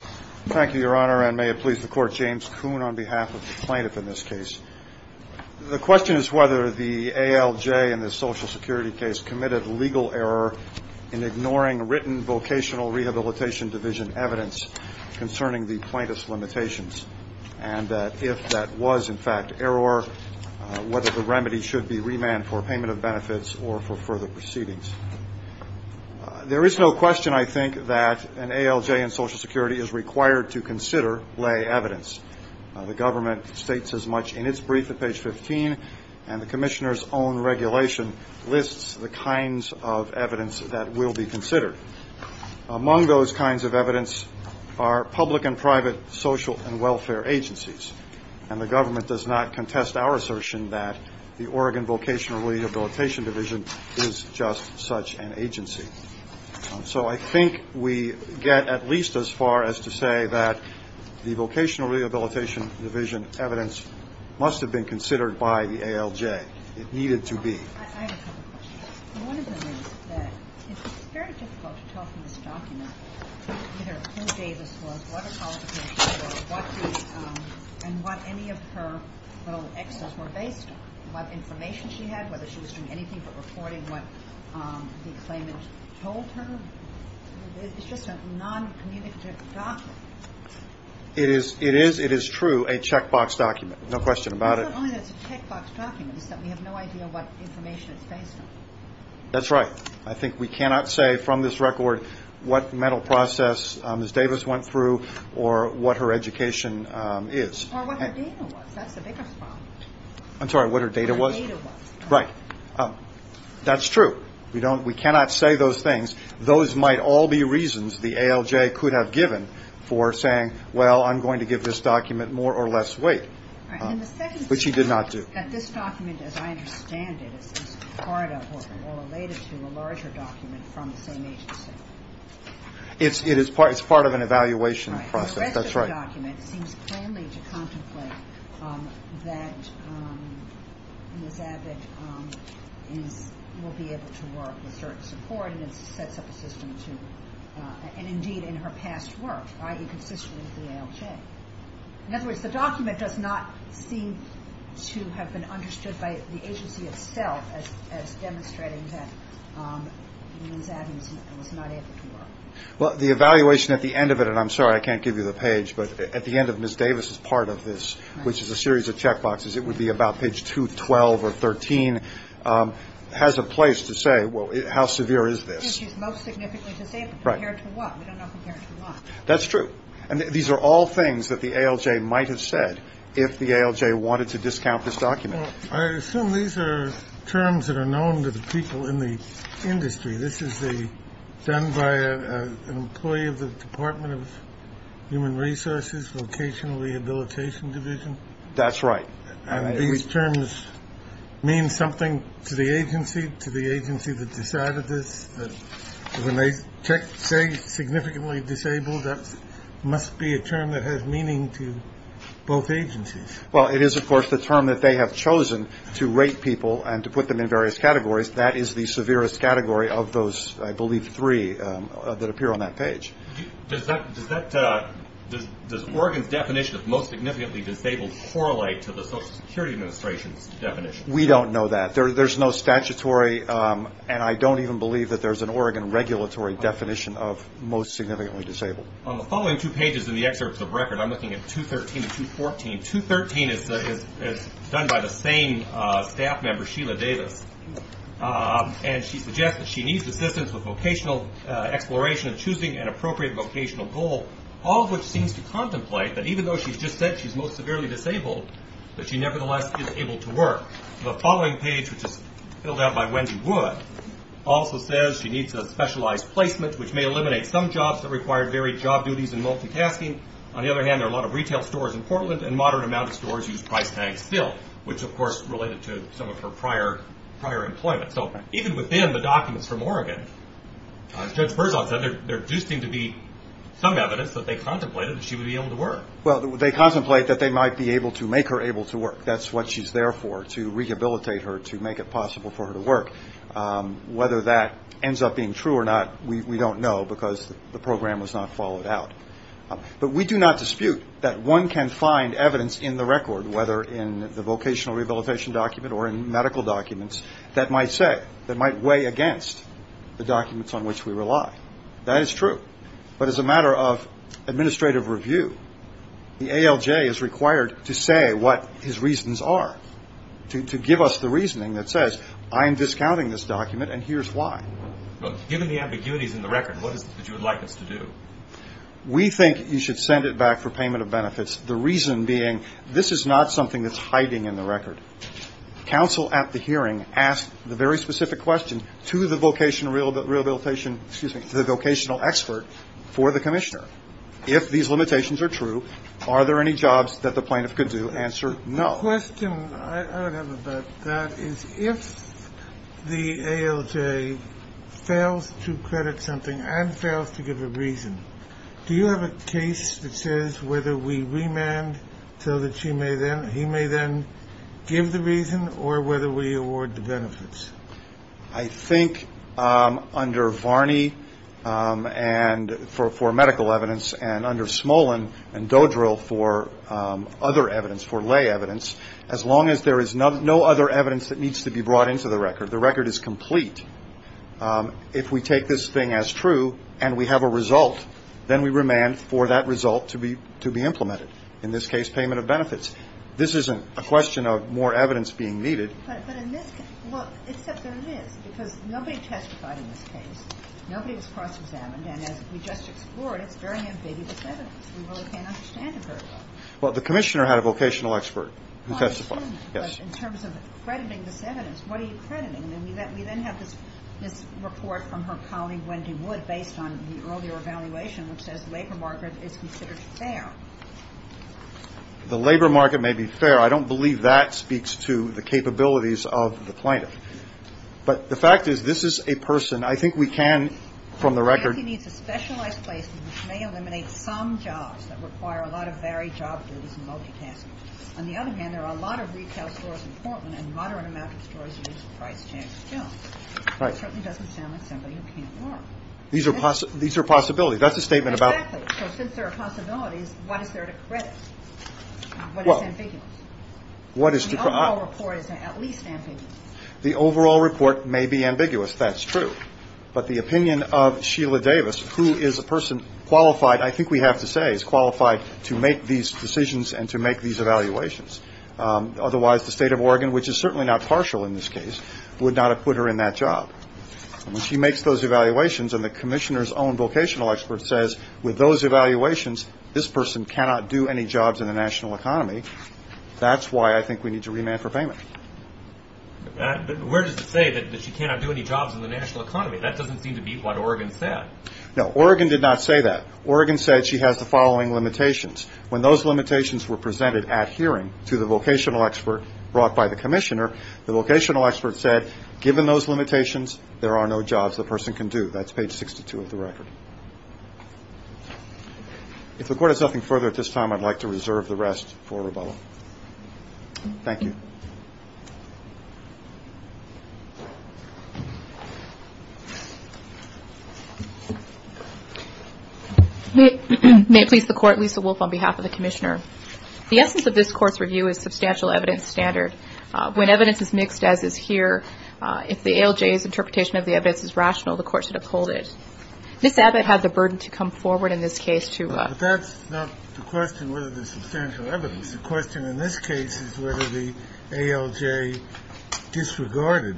Thank you, Your Honor, and may it please the Court, James Kuhn on behalf of the plaintiff in this case. The question is whether the ALJ in this Social Security case committed legal error in ignoring written Vocational Rehabilitation Division evidence concerning the plaintiff's limitations, and if that was in fact error, whether the remedy should be remand for payment of benefits or for further proceedings. There is no question, I think, that an ALJ in Social Security is required to consider lay evidence. The government states as much in its brief at page 15, and the Commissioner's own regulation lists the kinds of evidence that will be considered. Among those kinds of evidence are public and private social and welfare agencies, and the government does not contest our assertion that the Oregon we get at least as far as to say that the Vocational Rehabilitation Division evidence must have been considered by the ALJ. It needed to be. I have a couple questions. One of them is that it's very difficult to tell from this document either who Davis was, what her qualifications were, and what any of her little excess were based on, what information she had, whether she was doing anything but reporting what the claimant told her. That's right. I think we cannot say from this record what mental process Ms. Davis went through or what her education is. Or what her data was. That's the biggest problem. I'm sorry, what her data was? What her data was. Right. That's true. We cannot say those things. Those might all be reasons the ALJ could have given for saying, well, I'm going to give this document more or less weight, which he did not do. And the second thing is that this document, as I understand it, is part of or related to a larger document from the same agency. It's part of an evaluation process. That's right. Well, the evaluation at the end of it, and I'm sorry I can't give you the page, but at the end of Ms. Davis' part of this, which is a series of checkboxes, it would be about page 212 or 13, has a place to say, well, how severe is this? Which is most significantly disabled. Right. Compared to what? We don't know compared to what. That's true. And these are all things that the ALJ might have said if the ALJ wanted to discount this document. Well, I assume these are terms that are known to the people in the industry. This is done by an employee of the Department of Human Resources, Vocational Rehabilitation Division. That's right. And these terms mean something to the agency, to the agency that decided this, that when they say significantly disabled, that must be a term that has meaning to both agencies. Well, it is, of course, the term that they have chosen to rate people and to put them in various categories. That is the severest category of those, I believe, three that appear on that page. Does that, does that, does Oregon's definition of most significantly disabled correlate to the Social Security Administration's definition? We don't know that. There's no statutory, and I don't even believe that there's an Oregon regulatory definition of most significantly disabled. On the following two pages in the excerpts of record, I'm looking at 213 and 214, 213 is done by the same staff member, Sheila Davis, and she suggests that she needs assistance with vocational exploration and choosing an appropriate vocational goal, all of which seems to contemplate that even though she's just said she's most severely disabled, that she nevertheless is able to work. The following page, which is filled out by Wendy Wood, also says she needs a specialized placement, which may eliminate some jobs that require varied job duties and multitasking. On the other hand, there are a lot of retail stores in Portland, and a moderate amount of stores use price tags still, which of course related to some of her prior employment. So even within the documents from Oregon, as Judge Berzon said, there do seem to be some evidence that they contemplated that she would be able to work. Well, they contemplate that they might be able to make her able to work. That's what she's there for, to rehabilitate her, to make it possible for her to work. Whether that ends up being true or not, we don't know because the program was not followed out. But we do not dispute that one can find evidence in the record, whether in the vocational rehabilitation document or in medical documents, that might say, that might weigh against the documents on which we rely. That is true. But as a matter of administrative review, the ALJ is required to say what his reasons are, to give us the reasoning that says, I am discounting this document and here's why. Given the ambiguities in the record, what is it that you would like us to do? We think you should send it back for payment of benefits. The reason being, this is not something that's hiding in the record. Counsel at the hearing asked the very specific question to the vocational expert for the commissioner. If these limitations are true, are there any jobs that the plaintiff could do? Answer, no. The question I would have about that is, if the ALJ fails to credit something and fails to give a reason, do you have a case that says whether we remand so that he may then give the reason or whether we award the benefits? I think under Varney and for medical evidence and under Smolin and Dodrill for other evidence, for lay evidence, as long as there is no other evidence that needs to be brought into the record, the record is complete. If we take this thing as true and we have a result, then we remand for that result to be implemented. In this case, payment of benefits. This isn't a question of more evidence being needed. But in this case, well, except there is, because nobody testified in this case. Nobody was cross-examined. And as we just explored, it's very ambiguous evidence. We really can't understand it very well. Well, the commissioner had a vocational expert who testified. I assume that. Yes. But in terms of crediting this evidence, what are you crediting? I mean, we then have this report from her colleague, Wendy Wood, based on the earlier evaluation, which says labor market is considered fair. The labor market may be fair. I don't believe that speaks to the capabilities of the plaintiff. But the fact is, this is a person. I think we can, from the record. Wendy needs a specialized placement which may eliminate some jobs that require a lot of varied job duties and multitasking. On the other hand, there are a lot of retail stores in Portland, and a moderate amount of stores use price-tagged jobs. Right. It certainly doesn't sound like somebody who can't work. These are possibilities. That's a statement about. Exactly. So since there are possibilities, what is there to credit? What is ambiguous? The overall report is at least ambiguous. The overall report may be ambiguous. That's true. But the opinion of Sheila Davis, who is a person qualified, I think we have to say, is qualified to make these decisions and to make these evaluations. Otherwise, the state of Oregon, which is certainly not partial in this case, would not have put her in that job. When she makes those evaluations and the commissioner's own vocational expert says, with those evaluations, this person cannot do any jobs in the national economy, that's why I think we need to remand her payment. But where does it say that she cannot do any jobs in the national economy? That doesn't seem to be what Oregon said. No. Oregon did not say that. Oregon said she has the following limitations. When those limitations were presented at hearing to the vocational expert brought by the commissioner, the vocational expert said, given those limitations, there are no jobs the person can do. That's page 62 of the record. If the Court has nothing further at this time, I'd like to reserve the rest for rebuttal. Thank you. May it please the Court, Lisa Wolfe on behalf of the commissioner. The essence of this Court's review is substantial evidence standard. When evidence is mixed, as is here, if the ALJ's interpretation of the evidence is rational, the Court should uphold it. Ms. Abbott had the burden to come forward in this case to But that's not the question whether there's substantial evidence. The question in this case is whether the ALJ disregarded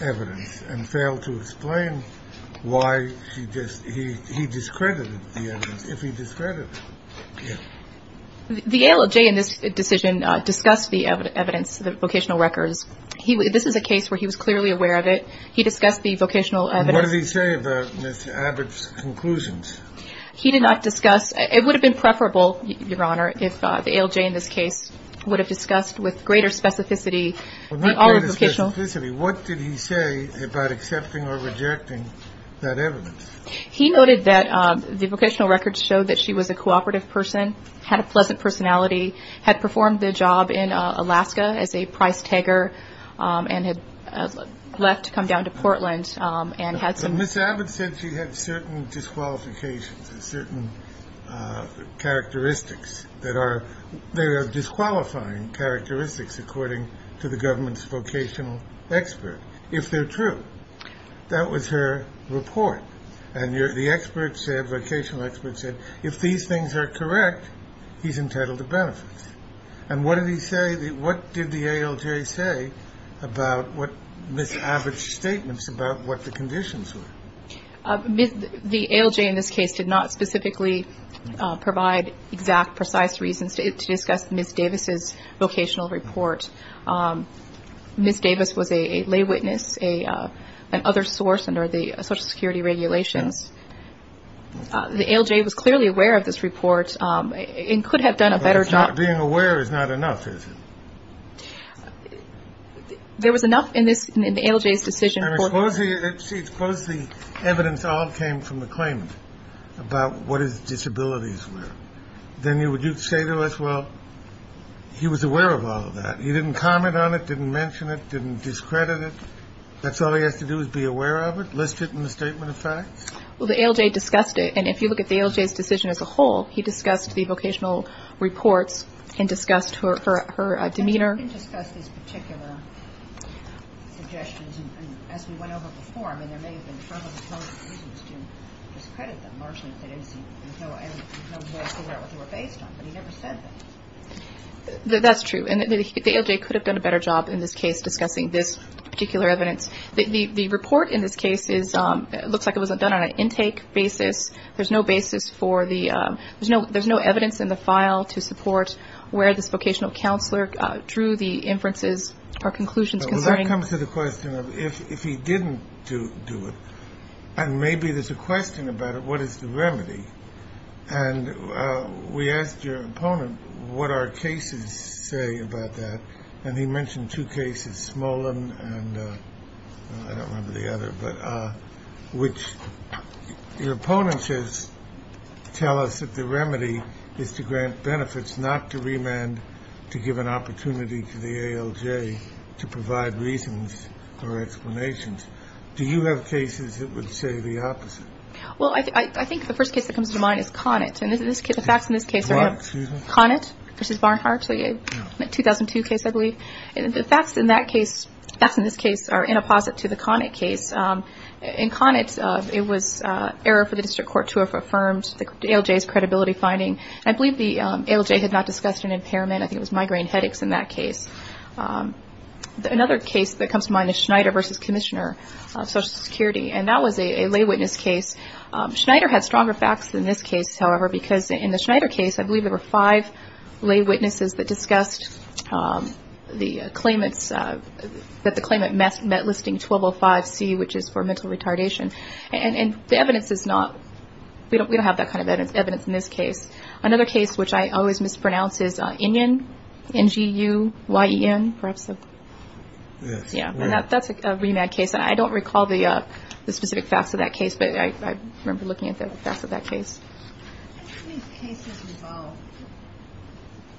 evidence and failed to explain why he discredited the evidence, if he discredited it. The ALJ in this decision discussed the evidence, the vocational records. This is a case where he was clearly aware of it. He discussed the vocational evidence. And what did he say about Ms. Abbott's conclusions? He did not discuss. It would have been preferable, Your Honor, if the ALJ in this case would have discussed with greater specificity Well, not greater specificity. What did he say about accepting or rejecting that evidence? He noted that the vocational records showed that she was a cooperative person, had a pleasant personality, had performed the job in Alaska as a price tagger, and had left to come down to Portland and had some But Ms. Abbott said she had certain disqualifications, certain characteristics that are disqualifying characteristics according to the government's vocational expert, if they're true. That was her report. And the expert said, vocational expert said, if these things are correct, he's entitled to benefits. And what did he say, what did the ALJ say about what Ms. Abbott's statements about what the conditions were? The ALJ in this case did not specifically provide exact, precise reasons to discuss Ms. Davis's vocational report. Ms. Davis was a lay witness, an other source under the Social Security regulations. The ALJ was clearly aware of this report and could have done a better job But being aware is not enough, is it? There was enough in the ALJ's decision for Suppose the evidence all came from the claimant about what his disabilities were. Then you would say to us, well, he was aware of all of that. He didn't comment on it, didn't mention it, didn't discredit it. That's all he has to do is be aware of it, list it in the statement of facts. Well, the ALJ discussed it. And if you look at the ALJ's decision as a whole, he discussed the vocational reports and discussed her demeanor. He didn't discuss these particular suggestions. And as we went over before, I mean, there may have been some of the reasons to discredit them. But he never said that. That's true. And the ALJ could have done a better job in this case discussing this particular evidence. The report in this case is it looks like it was done on an intake basis. There's no basis for the there's no there's no evidence in the file to support where this vocational counselor drew the inferences or conclusions. Well, that comes to the question of if he didn't do it and maybe there's a question about it. What is the remedy? And we asked your opponent what our cases say about that. And he mentioned two cases, Smolin and I don't remember the other. But which opponents tell us that the remedy is to grant benefits, not to remand, to give an opportunity to the ALJ to provide reasons or explanations. Do you have cases that would say the opposite? Well, I think the first case that comes to mind is Connett. And this is the facts in this case. Connett versus Barnhart, a 2002 case, I believe. And the facts in that case, facts in this case, are in opposite to the Connett case. In Connett, it was error for the district court to have affirmed the ALJ's credibility finding. I believe the ALJ had not discussed an impairment. I think it was migraine headaches in that case. Another case that comes to mind is Schneider versus Commissioner of Social Security. And that was a lay witness case. Schneider had stronger facts in this case, however, because in the Schneider case, I believe there were five lay witnesses that discussed the claimants that the claimant met listing 1205C, which is for mental retardation. And the evidence is not, we don't have that kind of evidence in this case. Another case which I always mispronounce is Inyon, N-G-U-Y-E-N, perhaps. And that's a remand case. And I don't recall the specific facts of that case, but I remember looking at the facts of that case. Do any of these cases involve,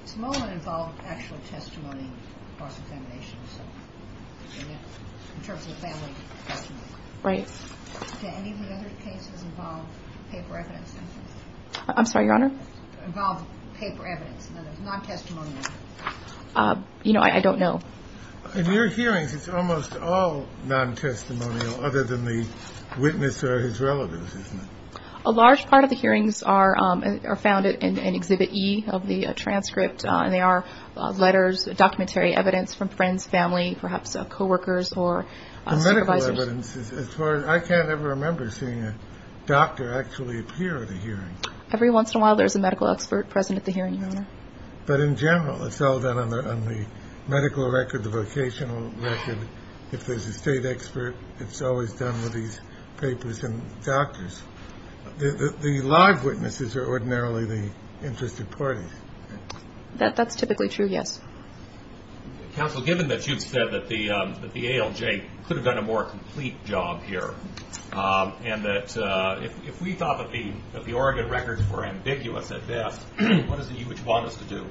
Samoan involved actual testimony of cross-examination, in terms of family testimony? Right. Do any of the other cases involve paper evidence? I'm sorry, Your Honor? Involve paper evidence, not testimonial? You know, I don't know. In your hearings, it's almost all non-testimonial, other than the witness or his relatives, isn't it? A large part of the hearings are found in Exhibit E of the transcript, and they are letters, documentary evidence from friends, family, perhaps co-workers or supervisors. The medical evidence, as far as I can't ever remember seeing a doctor actually appear at a hearing. Every once in a while, there's a medical expert present at the hearing, Your Honor. But in general, it's all done on the medical record, the vocational record. If there's a state expert, it's always done with these papers and doctors. The live witnesses are ordinarily the interested parties. That's typically true, yes. Counsel, given that you've said that the ALJ could have done a more complete job here, and that if we thought that the Oregon records were ambiguous at best, what is it you would want us to do?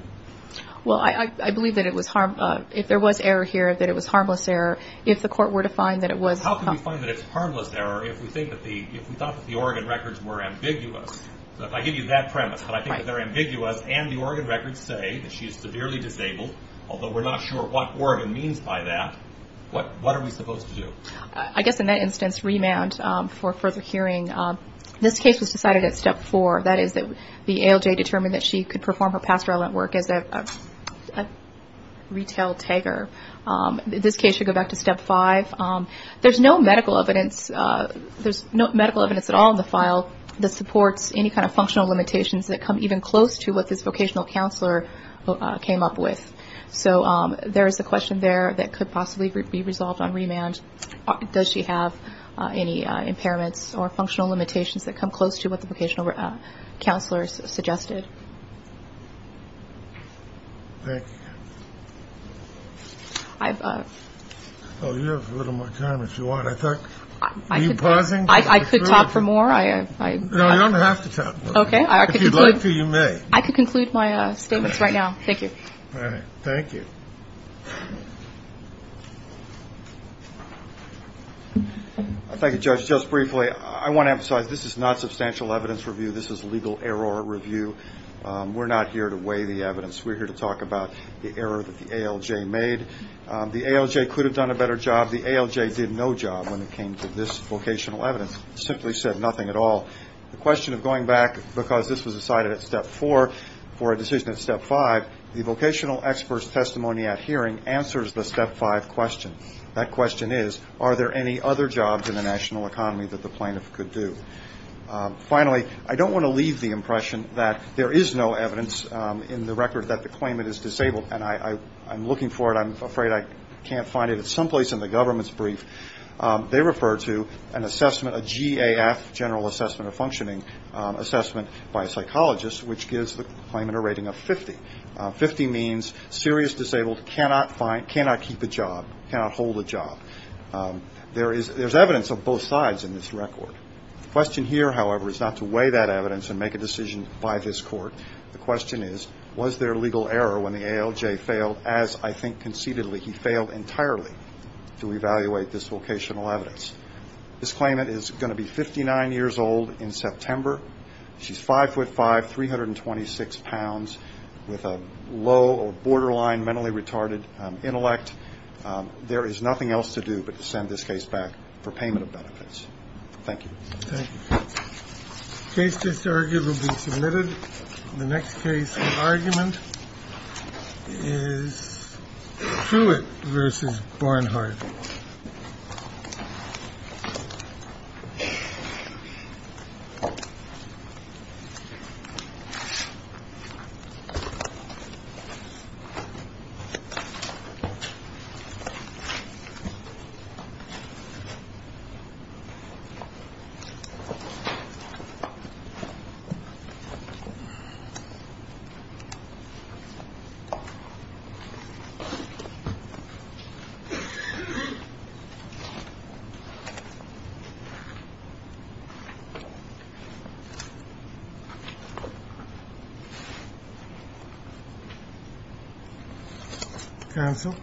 Well, I believe that if there was error here, that it was harmless error. If the court were to find that it was- How can we find that it's harmless error if we thought that the Oregon records were ambiguous? So if I give you that premise, that I think that they're ambiguous, and the Oregon records say that she is severely disabled, although we're not sure what Oregon means by that, what are we supposed to do? I guess in that instance, remand for further hearing. This case was decided at Step 4. That is, the ALJ determined that she could perform her past relevant work as a retail tagger. This case should go back to Step 5. There's no medical evidence at all in the file that supports any kind of functional limitations that come even close to what this vocational counselor came up with. So there is a question there that could possibly be resolved on remand. Does she have any impairments or functional limitations that come close to what the vocational counselor suggested? Thank you. Oh, you have a little more time if you want. Are you pausing? I could talk for more. No, you don't have to talk. Okay. If you'd like to, you may. I could conclude my statements right now. Thank you. All right. Thank you. Thank you, Judge. Just briefly, I want to emphasize this is not substantial evidence review. This is legal error review. We're not here to weigh the evidence. We're here to talk about the error that the ALJ made. The ALJ could have done a better job. The ALJ did no job when it came to this vocational evidence. It simply said nothing at all. The question of going back, because this was decided at Step 4, for a decision at Step 5, the vocational expert's testimony at hearing answers the Step 5 question. That question is, are there any other jobs in the national economy that the plaintiff could do? Finally, I don't want to leave the impression that there is no evidence in the record that the claimant is disabled, and I'm looking for it. I'm afraid I can't find it. It's someplace in the government's brief. They refer to an assessment, a GAF, General Assessment of Functioning, assessment by a psychologist, which gives the claimant a rating of 50. Fifty means serious disabled, cannot keep a job, cannot hold a job. There's evidence of both sides in this record. The question here, however, is not to weigh that evidence and make a decision by this court. The question is, was there legal error when the ALJ failed? As I think conceitedly, he failed entirely to evaluate this vocational evidence. This claimant is going to be 59 years old in September. She's 5'5", 326 pounds, with a low or borderline mentally retarded intellect. There is nothing else to do but to send this case back for payment of benefits. Thank you. The case disargued will be submitted. The next case for argument is Truitt v. Barnhart. Counsel.